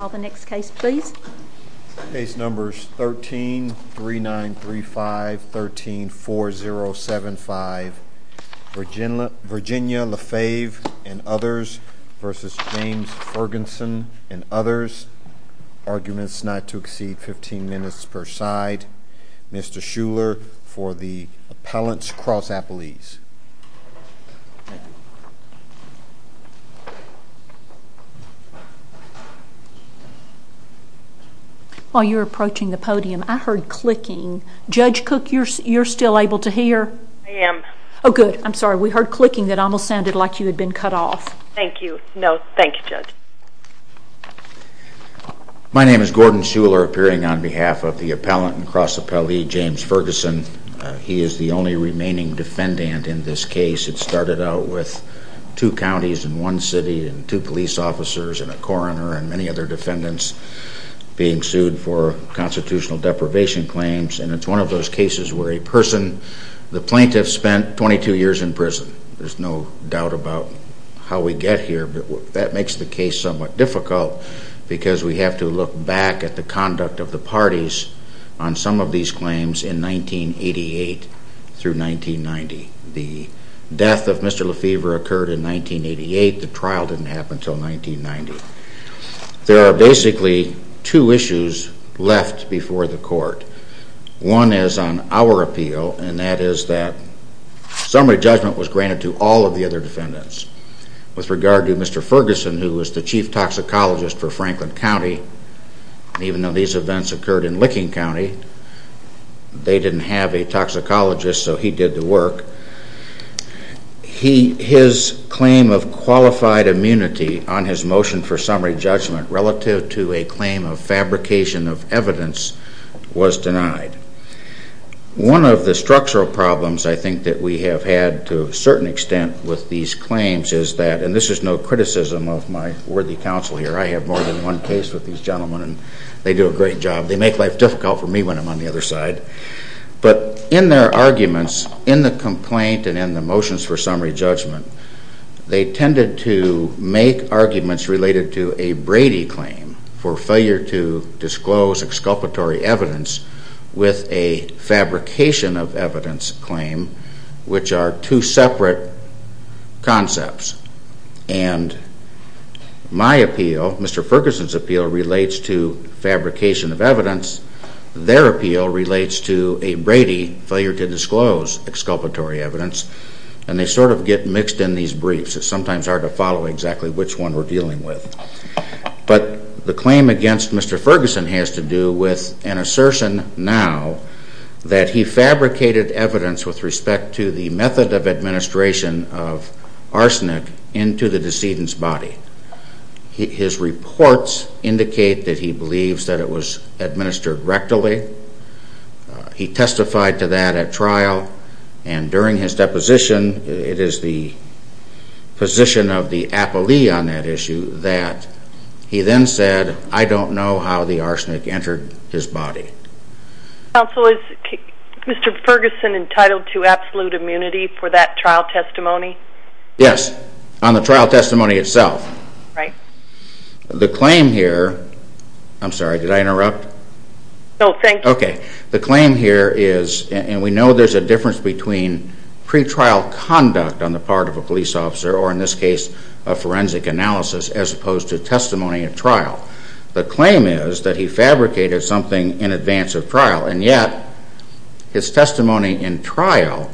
13.3935 13.4075 Virginia LeFeve v. James Ferguson Arguments not to exceed 15 minutes per side Mr. Shuler for the Appellant's Cross-Appellees. While you were approaching the podium, I heard clicking. Judge Cook, you're still able to hear? I am. Oh, good. I'm sorry. We heard clicking that almost sounded like you had been cut off. Thank you. No, thank you, Judge. My name is Gordon Shuler, appearing on behalf of the Appellant and Cross-Appellee James Ferguson. He is the only remaining defendant in this case. It started out with two counties and one city and two police officers and a coroner and many other defendants being sued for constitutional deprivation claims. And it's one of those cases where a person, the plaintiff spent 22 years in prison. There's no doubt about how we get here, but that makes the case somewhat difficult because we have to look back at the conduct of the parties on some of these claims in 1988 through 1990. The death of Mr. LeFeve occurred in 1988. The trial didn't happen until 1990. There are basically two issues left before the court. One is on our appeal, and that is that summary judgment was granted to all of the other defendants. With regard to Mr. Ferguson, who was the chief toxicologist for Franklin County, even though these events occurred in Licking County, they didn't have a toxicologist, so he did the work. His claim of qualified immunity on his motion for summary judgment relative to a claim of fabrication of evidence was denied. One of the structural problems I think that we have had to a certain extent with these claims is that, and this is no criticism of my worthy counsel here, I have more than one case with these gentlemen and they do a great job. They make life difficult for me when I'm on the other side. But in their arguments, in the complaint and in the motions for summary judgment, they tended to make arguments related to a Brady claim for failure to disclose exculpatory evidence with a fabrication of evidence claim, which are two separate concepts. And my appeal, Mr. Ferguson's appeal, relates to fabrication of evidence. Their appeal relates to a Brady failure to disclose exculpatory evidence. And they sort of get mixed in these briefs. It's sometimes hard to follow exactly which one we're dealing with. But the claim against Mr. Ferguson has to do with an assertion now that he fabricated evidence with respect to the method of administration of arsenic into the decedent's body. His reports indicate that he believes that it was administered rectally. He testified to that at trial. And during his deposition, it is the position of the appellee on that issue that he then said, I don't know how the arsenic entered his body. Counsel, is Mr. Ferguson entitled to absolute immunity for that trial testimony? Yes, on the trial testimony itself. Right. The claim here, I'm sorry, did I interrupt? No, thank you. Okay. The claim here is, and we know there's a difference between pretrial conduct on the part of a police officer, or in this case, a forensic analysis, as opposed to testimony at trial. The claim is that he fabricated something in advance of trial. And yet, his testimony in trial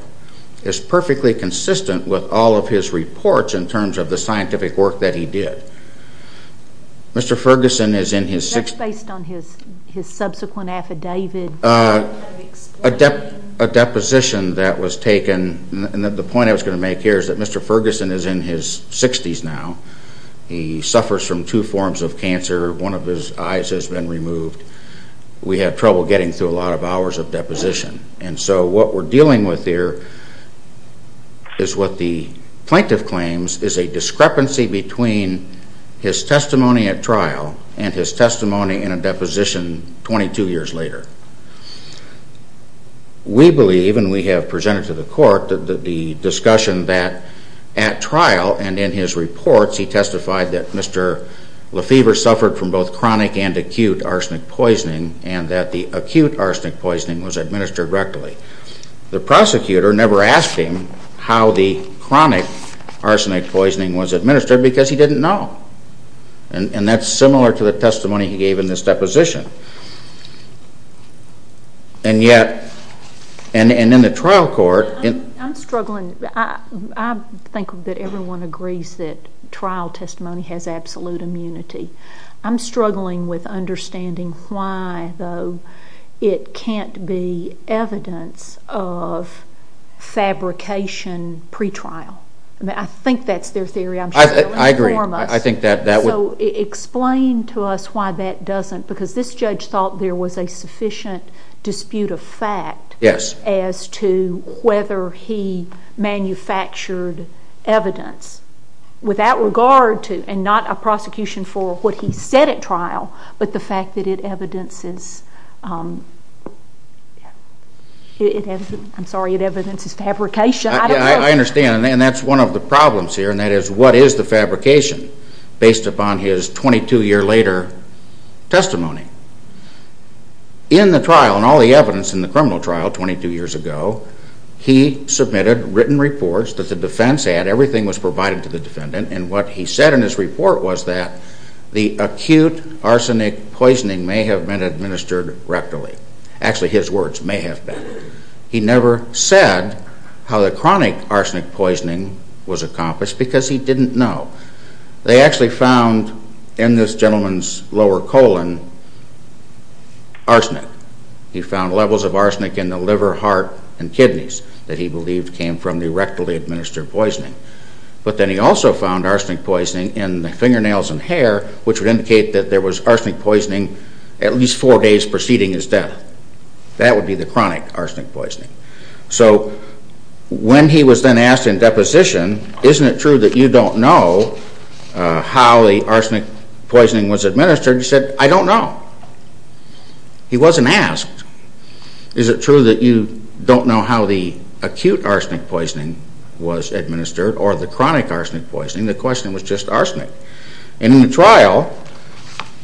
is perfectly consistent with all of his reports in terms of the scientific work that he did. Mr. Ferguson is in his 60s. Is that based on his subsequent affidavit? A deposition that was taken, and the point I was going to make here is that Mr. Ferguson is in his 60s now. He suffers from two forms of cancer. One of his eyes has been removed. We have trouble getting through a lot of hours of deposition. And so what we're dealing with here is what the plaintiff claims is a discrepancy between his testimony at trial and his testimony in a deposition 22 years later. We believe, and we have presented to the court, the discussion that at trial, and in his reports, he testified that Mr. Lefebvre suffered from both chronic and acute arsenic poisoning, and that the acute arsenic poisoning was administered rectally. The prosecutor never asked him how the chronic arsenic poisoning was administered because he didn't know. And that's similar to the testimony he gave in this deposition. And yet, and in the trial court... I'm struggling. I think that everyone agrees that trial testimony has absolute immunity. I'm struggling with understanding why, though, it can't be evidence of fabrication pretrial. I think that's their theory. I'm sure they'll inform us. I agree. So explain to us why that doesn't, because this judge thought there was a sufficient dispute of fact as to whether he manufactured evidence without regard to, and not a prosecution for what he said at trial, but the fact that it evidences fabrication. I understand, and that's one of the problems here, and that is, what is the fabrication based upon his 22-year-later testimony? In the trial, and all the evidence in the criminal trial 22 years ago, he submitted written reports that the defense had. Everything was provided to the defendant, and what he said in his report was that the acute arsenic poisoning may have been administered rectally. Actually, his words, may have been. He never said how the chronic arsenic poisoning was accomplished, because he didn't know. They actually found, in this gentleman's lower colon, arsenic. He found levels of arsenic in the liver, heart, and kidneys that he believed came from the rectally administered poisoning. But then he also found arsenic poisoning in the fingernails and hair, which would indicate that there was arsenic poisoning at least four days preceding his death. That would be the chronic arsenic poisoning. So, when he was then asked in deposition, isn't it true that you don't know how the arsenic poisoning was administered? He said, I don't know. He wasn't asked, is it true that you don't know how the acute arsenic poisoning was administered, or the chronic arsenic poisoning? The question was just arsenic. In the trial,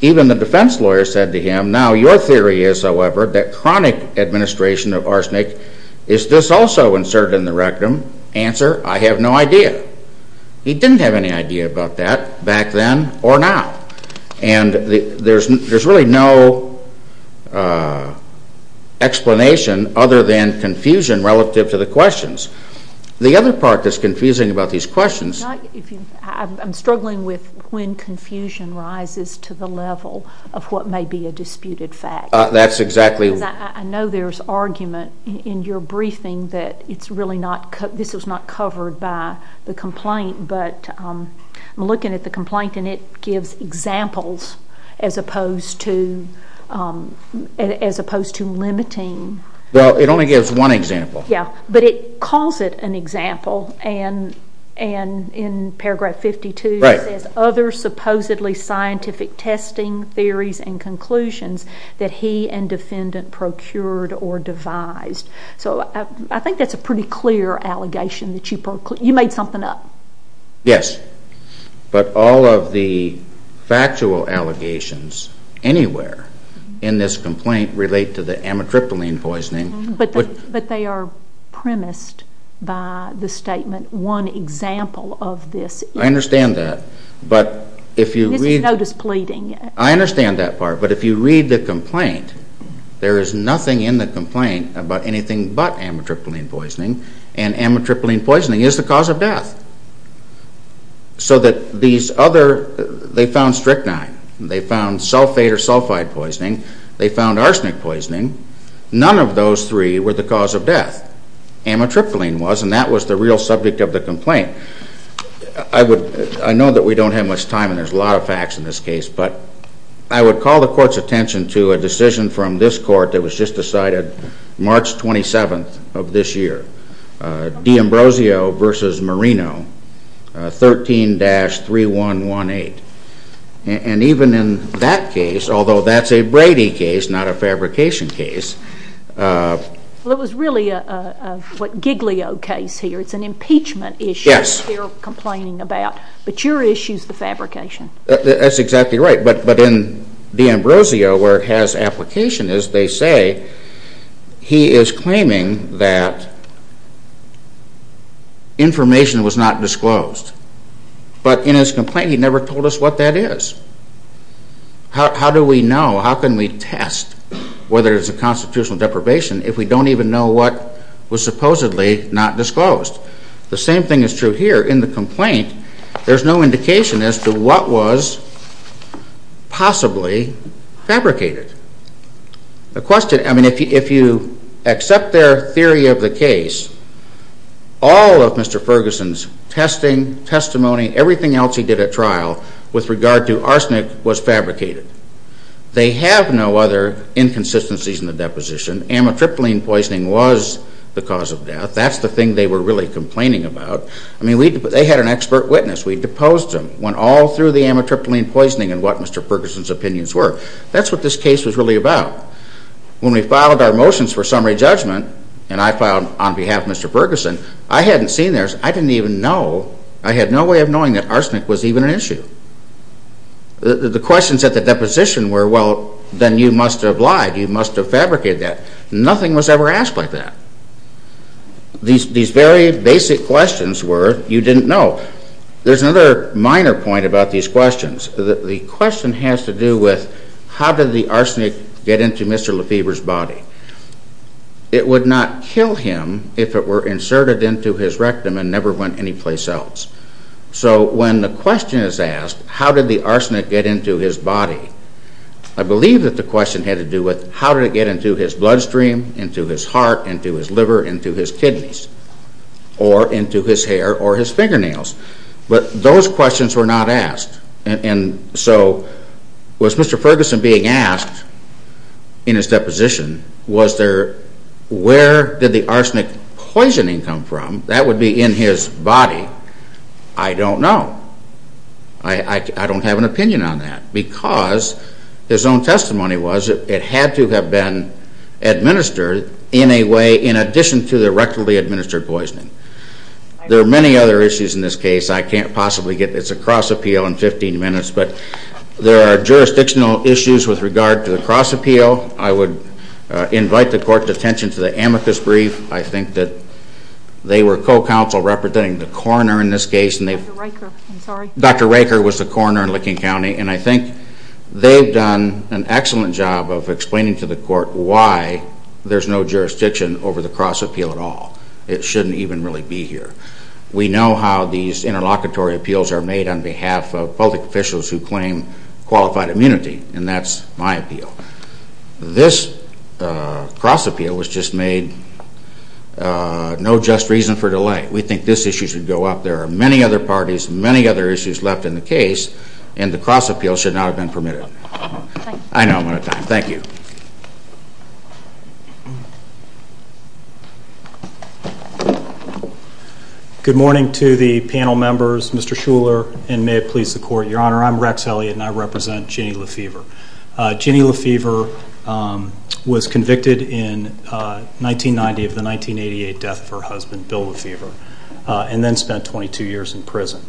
even the defense lawyer said to him, now your theory is, however, that chronic administration of arsenic, is this also inserted in the rectum? Answer, I have no idea. He didn't have any idea about that back then or now. And there's really no explanation other than confusion relative to the questions. The other part that's confusing about these questions... I'm struggling with when confusion rises to the level of what may be a disputed fact. That's exactly... I know there's argument in your briefing that this was not covered by the complaint, but I'm looking at the complaint and it gives examples as opposed to limiting... Well, it only gives one example. Yeah, but it calls it an example, and in paragraph 52 it says, other supposedly scientific testing theories and conclusions that he and defendant procured or devised. So I think that's a pretty clear allegation that you made something up. Yes, but all of the factual allegations anywhere in this complaint relate to the amitriptyline poisoning. But they are premised by the statement, one example of this. I understand that, but if you read... This is no displeading. I understand that part, but if you read the complaint, there is nothing in the complaint about anything but amitriptyline poisoning, and amitriptyline poisoning is the cause of death. So that these other... they found strychnine, they found sulfate or sulfide poisoning, they found arsenic poisoning, none of those three were the cause of death. Amitriptyline was, and that was the real subject of the complaint. I know that we don't have much time and there's a lot of facts in this case, but I would call the court's attention to a decision from this court that was just decided March 27th of this year. D'Ambrosio v. Marino, 13-3118. And even in that case, although that's a Brady case, not a fabrication case... Well, it was really a Giglio case here, it's an impeachment issue they're complaining about, but your issue is the fabrication. That's exactly right, but in D'Ambrosio, where it has application, they say he is claiming that information was not disclosed. But in his complaint, he never told us what that is. How do we know, how can we test whether it's a constitutional deprivation if we don't even know what was supposedly not disclosed? The same thing is true here. In the complaint, there's no indication as to what was possibly fabricated. If you accept their theory of the case, all of Mr. Ferguson's testing, testimony, everything else he did at trial with regard to arsenic was fabricated. They have no other inconsistencies in the deposition. Amitriptyline poisoning was the cause of death, that's the thing they were really complaining about. I mean, they had an expert witness, we deposed him, went all through the amitriptyline poisoning and what Mr. Ferguson's opinions were. That's what this case was really about. When we filed our motions for summary judgment, and I filed on behalf of Mr. Ferguson, I hadn't seen theirs, I didn't even know. I had no way of knowing that arsenic was even an issue. The questions at the deposition were, well, then you must have lied, you must have fabricated that. Nothing was ever asked like that. These very basic questions were, you didn't know. There's another minor point about these questions. The question has to do with, how did the arsenic get into Mr. Lefebvre's body? It would not kill him if it were inserted into his rectum and never went anyplace else. So when the question is asked, how did the arsenic get into his body? I believe that the question had to do with, how did it get into his bloodstream, into his heart, into his liver, into his kidneys? Or into his hair or his fingernails? But those questions were not asked. And so, was Mr. Ferguson being asked, in his deposition, was there, where did the arsenic poisoning come from? That would be in his body. I don't know. I don't have an opinion on that. Because his own testimony was, it had to have been administered in a way, in addition to the rectally administered poisoning. There are many other issues in this case. I can't possibly get this across appeal in 15 minutes. But there are jurisdictional issues with regard to the cross appeal. I would invite the Court's attention to the amicus brief. I think that they were co-counsel representing the coroner in this case. Dr. Riker, I'm sorry. Dr. Riker was the coroner in Licking County. And I think they've done an excellent job of explaining to the Court why there's no jurisdiction over the cross appeal at all. It shouldn't even really be here. We know how these interlocutory appeals are made on behalf of public officials who claim qualified immunity. And that's my appeal. This cross appeal was just made, no just reason for delay. We think this issue should go up. There are many other parties, many other issues left in the case. And the cross appeal should not have been permitted. I know I'm out of time. Thank you. Good morning to the panel members, Mr. Shuler, and may it please the Court. Your Honor, I'm Rex Elliott and I represent Ginny Lefevre. Ginny Lefevre was convicted in 1990 of the 1988 death of her husband, Bill Lefevre, and then spent 22 years in prison.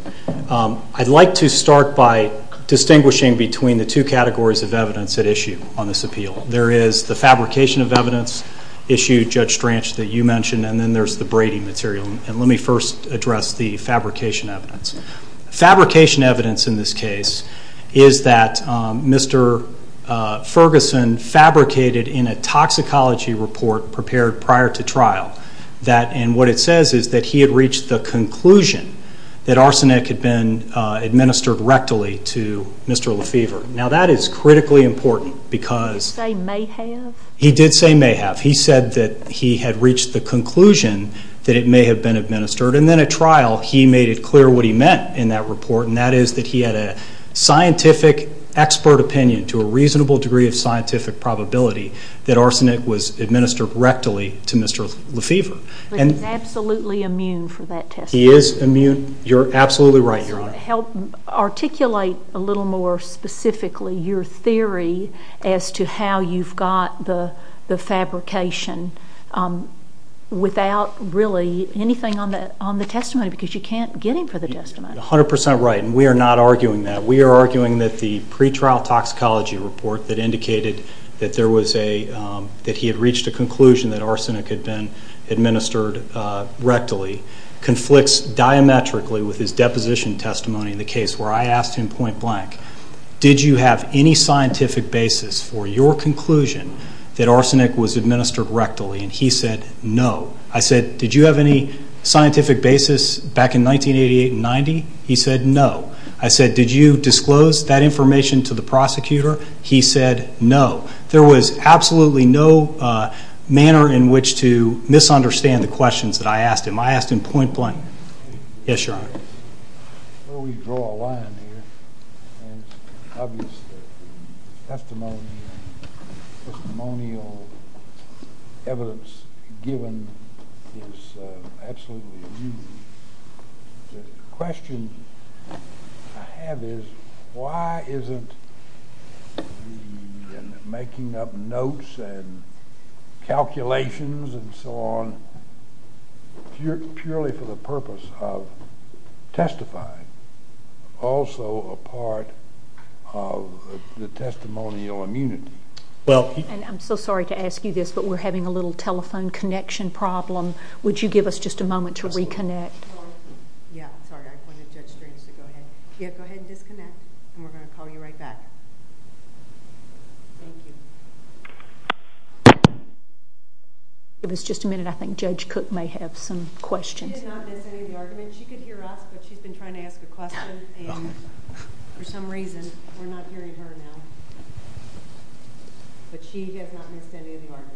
I'd like to start by distinguishing between the two categories of evidence at issue on this appeal. There is the fabrication of evidence issue, Judge Stranch, that you mentioned, and then there's the Brady material. And let me first address the fabrication evidence. Fabrication evidence in this case is that Mr. Ferguson fabricated in a toxicology report prepared prior to trial and what it says is that he had reached the conclusion that arsenic had been administered rectally to Mr. Lefevre. Now, that is critically important because... Did he say may have? He did say may have. He said that he had reached the conclusion that it may have been administered. And then at trial, he made it clear what he meant in that report, and that is that he had a scientific expert opinion to a reasonable degree of scientific probability that arsenic was administered rectally to Mr. Lefevre. But he's absolutely immune for that testimony. He is immune. You're absolutely right, Your Honor. Help articulate a little more specifically your theory as to how you've got the fabrication without really anything on the testimony because you can't get him for the testimony. You're 100% right, and we are not arguing that. We are arguing that the pretrial toxicology report that indicated that he had reached a conclusion that arsenic had been administered rectally conflicts diametrically with his deposition testimony in the case where I asked him point blank, did you have any scientific basis for your conclusion that arsenic was administered rectally? And he said no. I said, did you have any scientific basis back in 1988 and 1990? He said no. I said, did you disclose that information to the prosecutor? He said no. There was absolutely no manner in which to misunderstand the questions that I asked him. I asked him point blank. Yes, Your Honor. Before we draw a line here, it's obvious that the testimonial evidence given is absolutely unusual. The question I have is why isn't the making up notes and calculations and so on purely for the purpose of testifying also a part of the testimonial immunity? And I'm so sorry to ask you this, but we're having a little telephone connection problem. Would you give us just a moment to reconnect? Yeah, I'm sorry. I wanted Judge Strange to go ahead. Yeah, go ahead and disconnect, and we're going to call you right back. Thank you. Give us just a minute. I think Judge Cook may have some questions. She did not miss any of the argument. She could hear us, but she's been trying to ask a question. And for some reason, we're not hearing her now. But she has not missed any of the argument.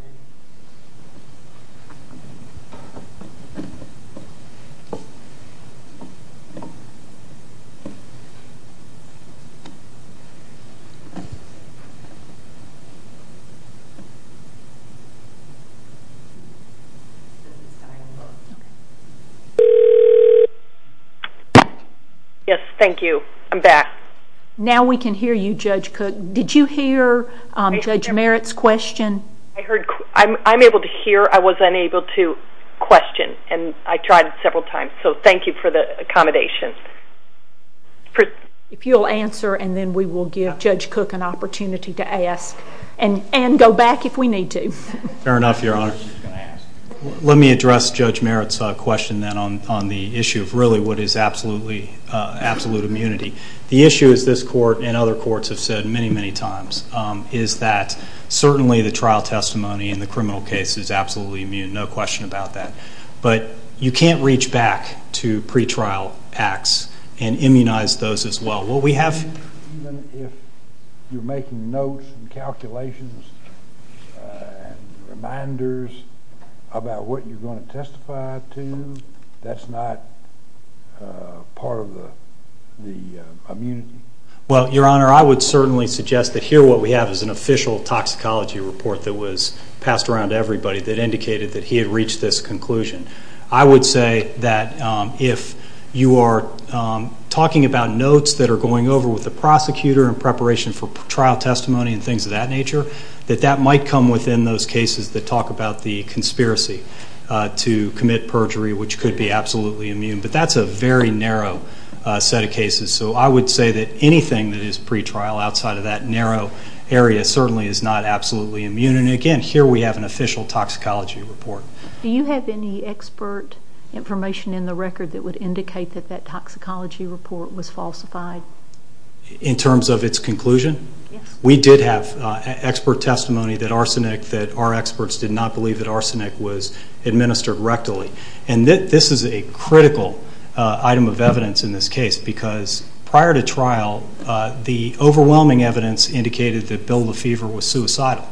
Yes, thank you. I'm back. Now we can hear you, Judge Cook. Did you hear Judge Merritt's question? I'm able to hear. I was unable to question, and I tried several times. So thank you for the accommodation. If you'll answer, and then we will give Judge Cook an opportunity to ask. And go back if we need to. Fair enough, Your Honor. Let me address Judge Merritt's question then on the issue of really what is absolute immunity. The issue, as this court and other courts have said many, many times, is that certainly the trial testimony in the criminal case is absolutely immune. No question about that. But you can't reach back to pretrial acts and immunize those as well. Even if you're making notes and calculations and reminders about what you're going to testify to, that's not part of the immunity? Well, Your Honor, I would certainly suggest that here what we have is an official toxicology report that was passed around to everybody that indicated that he had reached this conclusion. I would say that if you are talking about notes that are going over with the prosecutor in preparation for trial testimony and things of that nature, that that might come within those cases that talk about the conspiracy to commit perjury, which could be absolutely immune. But that's a very narrow set of cases. So I would say that anything that is pretrial outside of that narrow area certainly is not absolutely immune. And, again, here we have an official toxicology report. Do you have any expert information in the record that would indicate that that toxicology report was falsified? In terms of its conclusion? Yes. We did have expert testimony that our experts did not believe that arsenic was administered rectally. And this is a critical item of evidence in this case because prior to trial, the overwhelming evidence indicated that Bill Lefevre was suicidal.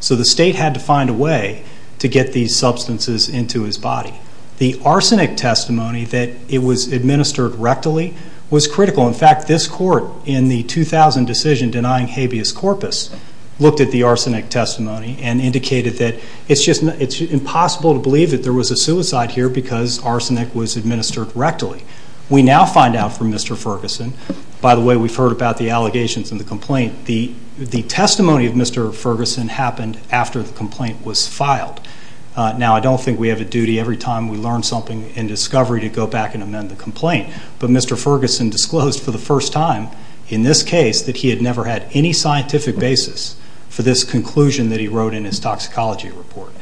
So the state had to find a way to get these substances into his body. The arsenic testimony that it was administered rectally was critical. In fact, this court in the 2000 decision denying habeas corpus looked at the arsenic testimony and indicated that it's impossible to believe that there was a suicide here because arsenic was administered rectally. We now find out from Mr. Ferguson, by the way we've heard about the allegations in the complaint, the testimony of Mr. Ferguson happened after the complaint was filed. Now, I don't think we have a duty every time we learn something in discovery to go back and amend the complaint. But Mr. Ferguson disclosed for the first time in this case that he had never had any scientific basis for this conclusion that he wrote in his toxicology report.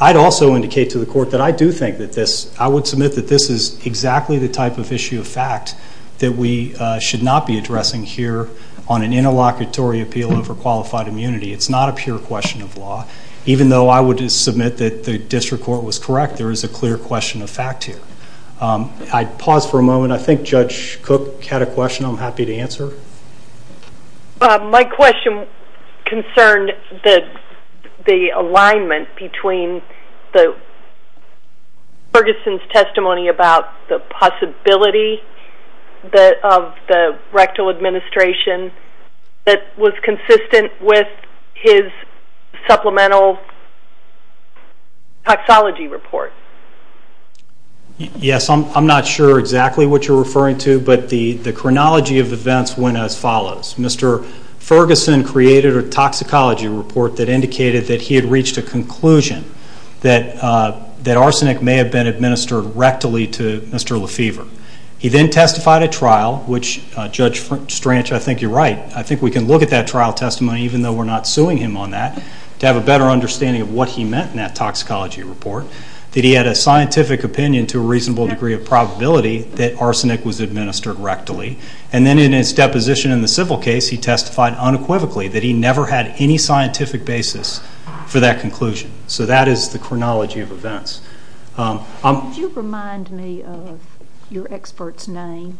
I'd also indicate to the court that I do think that this, that we should not be addressing here on an interlocutory appeal over qualified immunity. It's not a pure question of law. Even though I would submit that the district court was correct, there is a clear question of fact here. I'd pause for a moment. I think Judge Cook had a question I'm happy to answer. My question concerned the alignment between Ferguson's testimony about the possibility of the rectal administration that was consistent with his supplemental toxology report. Yes, I'm not sure exactly what you're referring to, but the chronology of events went as follows. Mr. Ferguson created a toxicology report that indicated that he had reached a conclusion that arsenic may have been administered rectally to Mr. Lefevre. He then testified at trial, which Judge Stranch, I think you're right, I think we can look at that trial testimony, even though we're not suing him on that, to have a better understanding of what he meant in that toxicology report, that he had a scientific opinion to a reasonable degree of probability that arsenic was administered rectally. And then in his deposition in the civil case, he testified unequivocally that he never had any scientific basis for that conclusion. So that is the chronology of events. Could you remind me of your expert's name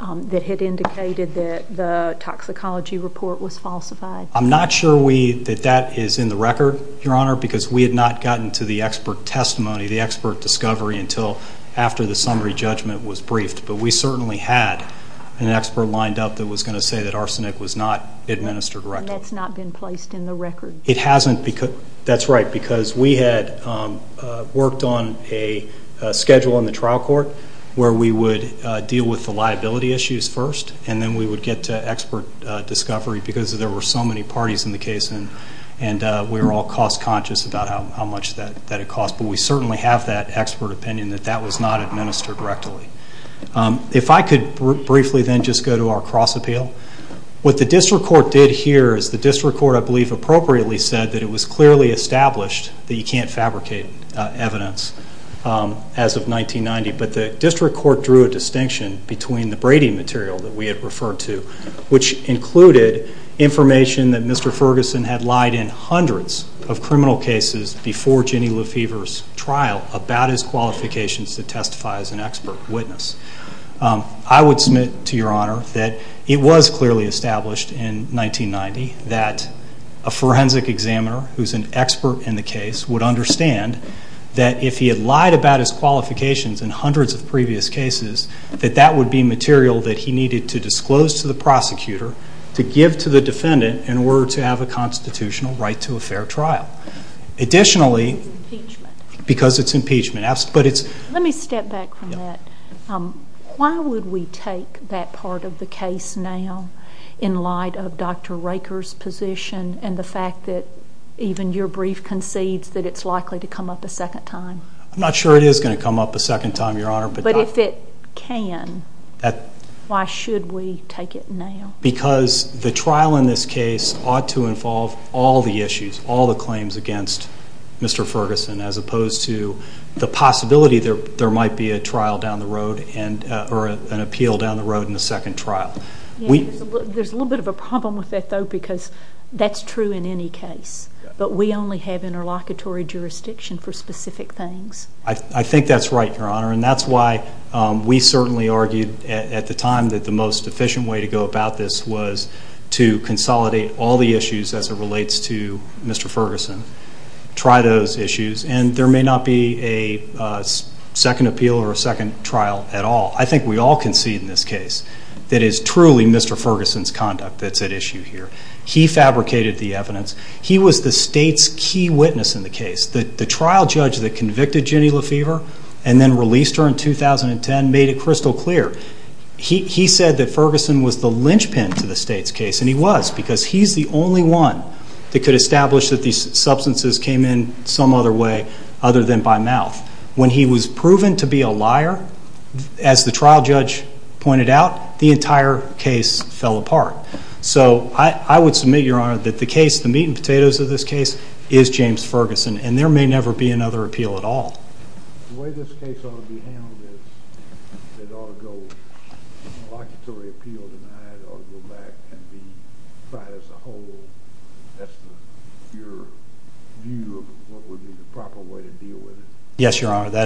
that had indicated that the toxicology report was falsified? I'm not sure that that is in the record, Your Honor, because we had not gotten to the expert testimony, the expert discovery, until after the summary judgment was briefed. But we certainly had an expert lined up that was going to say that arsenic was not administered rectally. And that's not been placed in the record? It hasn't. That's right, because we had worked on a schedule in the trial court where we would deal with the liability issues first, and then we would get to expert discovery because there were so many parties in the case, and we were all cost-conscious about how much that had cost. But we certainly have that expert opinion that that was not administered rectally. If I could briefly then just go to our cross-appeal. What the district court did here is the district court, I believe, appropriately said that it was clearly established that you can't fabricate evidence as of 1990. But the district court drew a distinction between the Brady material that we had referred to, which included information that Mr. Ferguson had lied in hundreds of criminal cases before Jenny Lefevre's trial about his qualifications to testify as an expert witness. I would submit to Your Honor that it was clearly established in 1990 that a forensic examiner who's an expert in the case would understand that if he had lied about his qualifications in hundreds of previous cases, that that would be material that he needed to disclose to the prosecutor to give to the defendant in order to have a constitutional right to a fair trial. Additionally, because it's impeachment. Let me step back from that. Why would we take that part of the case now in light of Dr. Raker's position and the fact that even your brief concedes that it's likely to come up a second time? I'm not sure it is going to come up a second time, Your Honor. But if it can, why should we take it now? Because the trial in this case ought to involve all the issues, all the claims against Mr. Ferguson, as opposed to the possibility there might be a trial down the road or an appeal down the road in the second trial. There's a little bit of a problem with that, though, because that's true in any case. But we only have interlocutory jurisdiction for specific things. I think that's right, Your Honor, and that's why we certainly argued at the time that the most efficient way to go about this was to consolidate all the issues as it relates to Mr. Ferguson, try those issues, and there may not be a second appeal or a second trial at all. I think we all concede in this case that it is truly Mr. Ferguson's conduct that's at issue here. He fabricated the evidence. He was the state's key witness in the case. The trial judge that convicted Ginny Lefevre and then released her in 2010 made it crystal clear. He said that Ferguson was the linchpin to the state's case, and he was, because he's the only one that could establish that these substances came in some other way other than by mouth. When he was proven to be a liar, as the trial judge pointed out, the entire case fell apart. So I would submit, Your Honor, that the meat and potatoes of this case is James Ferguson, and there may never be another appeal at all. The way this case ought to be handled is it ought to go interlocutory appeal denied or go back and be tried as a whole. That's your view of what would be the proper way to deal with it. Yes, Your Honor, that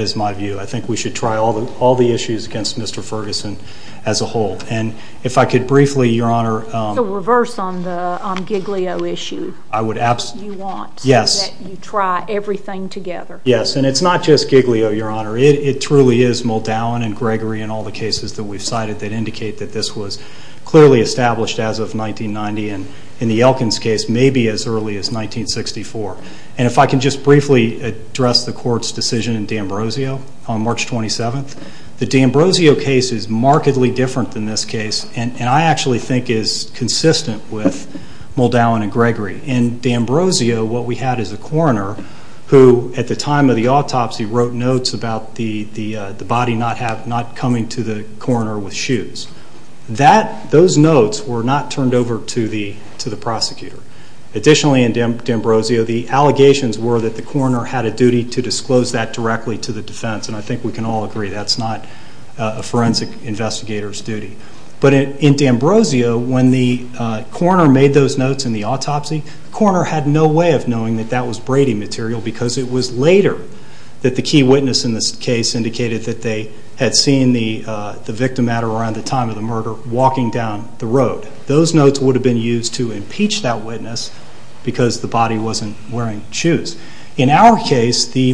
is my view. I think we should try all the issues against Mr. Ferguson as a whole. And if I could briefly, Your Honor— So reverse on the Giglio issue. I would absolutely— You want— Yes. —that you try everything together. Yes, and it's not just Giglio, Your Honor. It truly is Muldown and Gregory and all the cases that we've cited that indicate that this was clearly established as of 1990, and in the Elkins case, maybe as early as 1964. And if I can just briefly address the court's decision in D'Ambrosio on March 27th, the D'Ambrosio case is markedly different than this case and I actually think is consistent with Muldown and Gregory. In D'Ambrosio, what we had is a coroner who, at the time of the autopsy, wrote notes about the body not coming to the coroner with shoes. Those notes were not turned over to the prosecutor. Additionally, in D'Ambrosio, the allegations were that the coroner had a duty to disclose that directly to the defense, and I think we can all agree that's not a forensic investigator's duty. But in D'Ambrosio, when the coroner made those notes in the autopsy, the coroner had no way of knowing that that was Brady material because it was later that the key witness in this case indicated that they had seen the victim matter around the time of the murder walking down the road. Those notes would have been used to impeach that witness because the body wasn't wearing shoes. In our case, the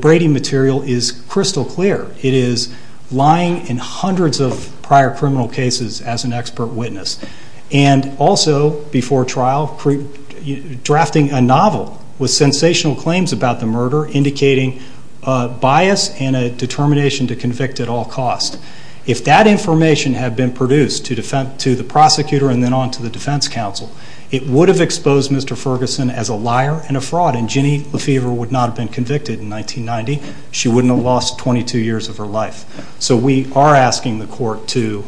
Brady material is crystal clear. It is lying in hundreds of prior criminal cases as an expert witness and also before trial drafting a novel with sensational claims about the murder indicating bias and a determination to convict at all costs. If that information had been produced to the prosecutor and then on to the defense counsel, it would have exposed Mr. Ferguson as a liar and a fraud, and Ginny Lefevre would not have been convicted in 1990. She wouldn't have lost 22 years of her life. So we are asking the court to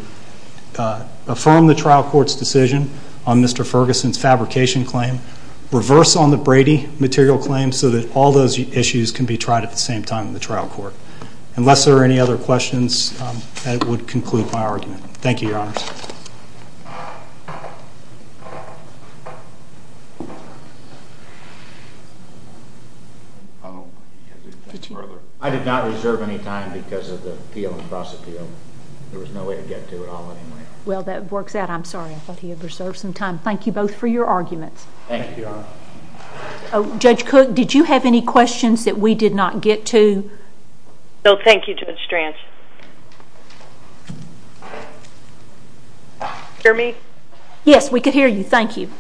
affirm the trial court's decision on Mr. Ferguson's fabrication claim, reverse on the Brady material claim so that all those issues can be tried at the same time in the trial court. Unless there are any other questions, that would conclude my argument. Thank you, Your Honors. I did not reserve any time because of the appeal and cross-appeal. There was no way to get to it all anyway. Well, that works out. I'm sorry. I thought he had reserved some time. Thank you both for your arguments. Thank you, Your Honor. Judge Cook, did you have any questions that we did not get to? No, thank you, Judge Stranch. Hear me? Yes, we can hear you. Thank you.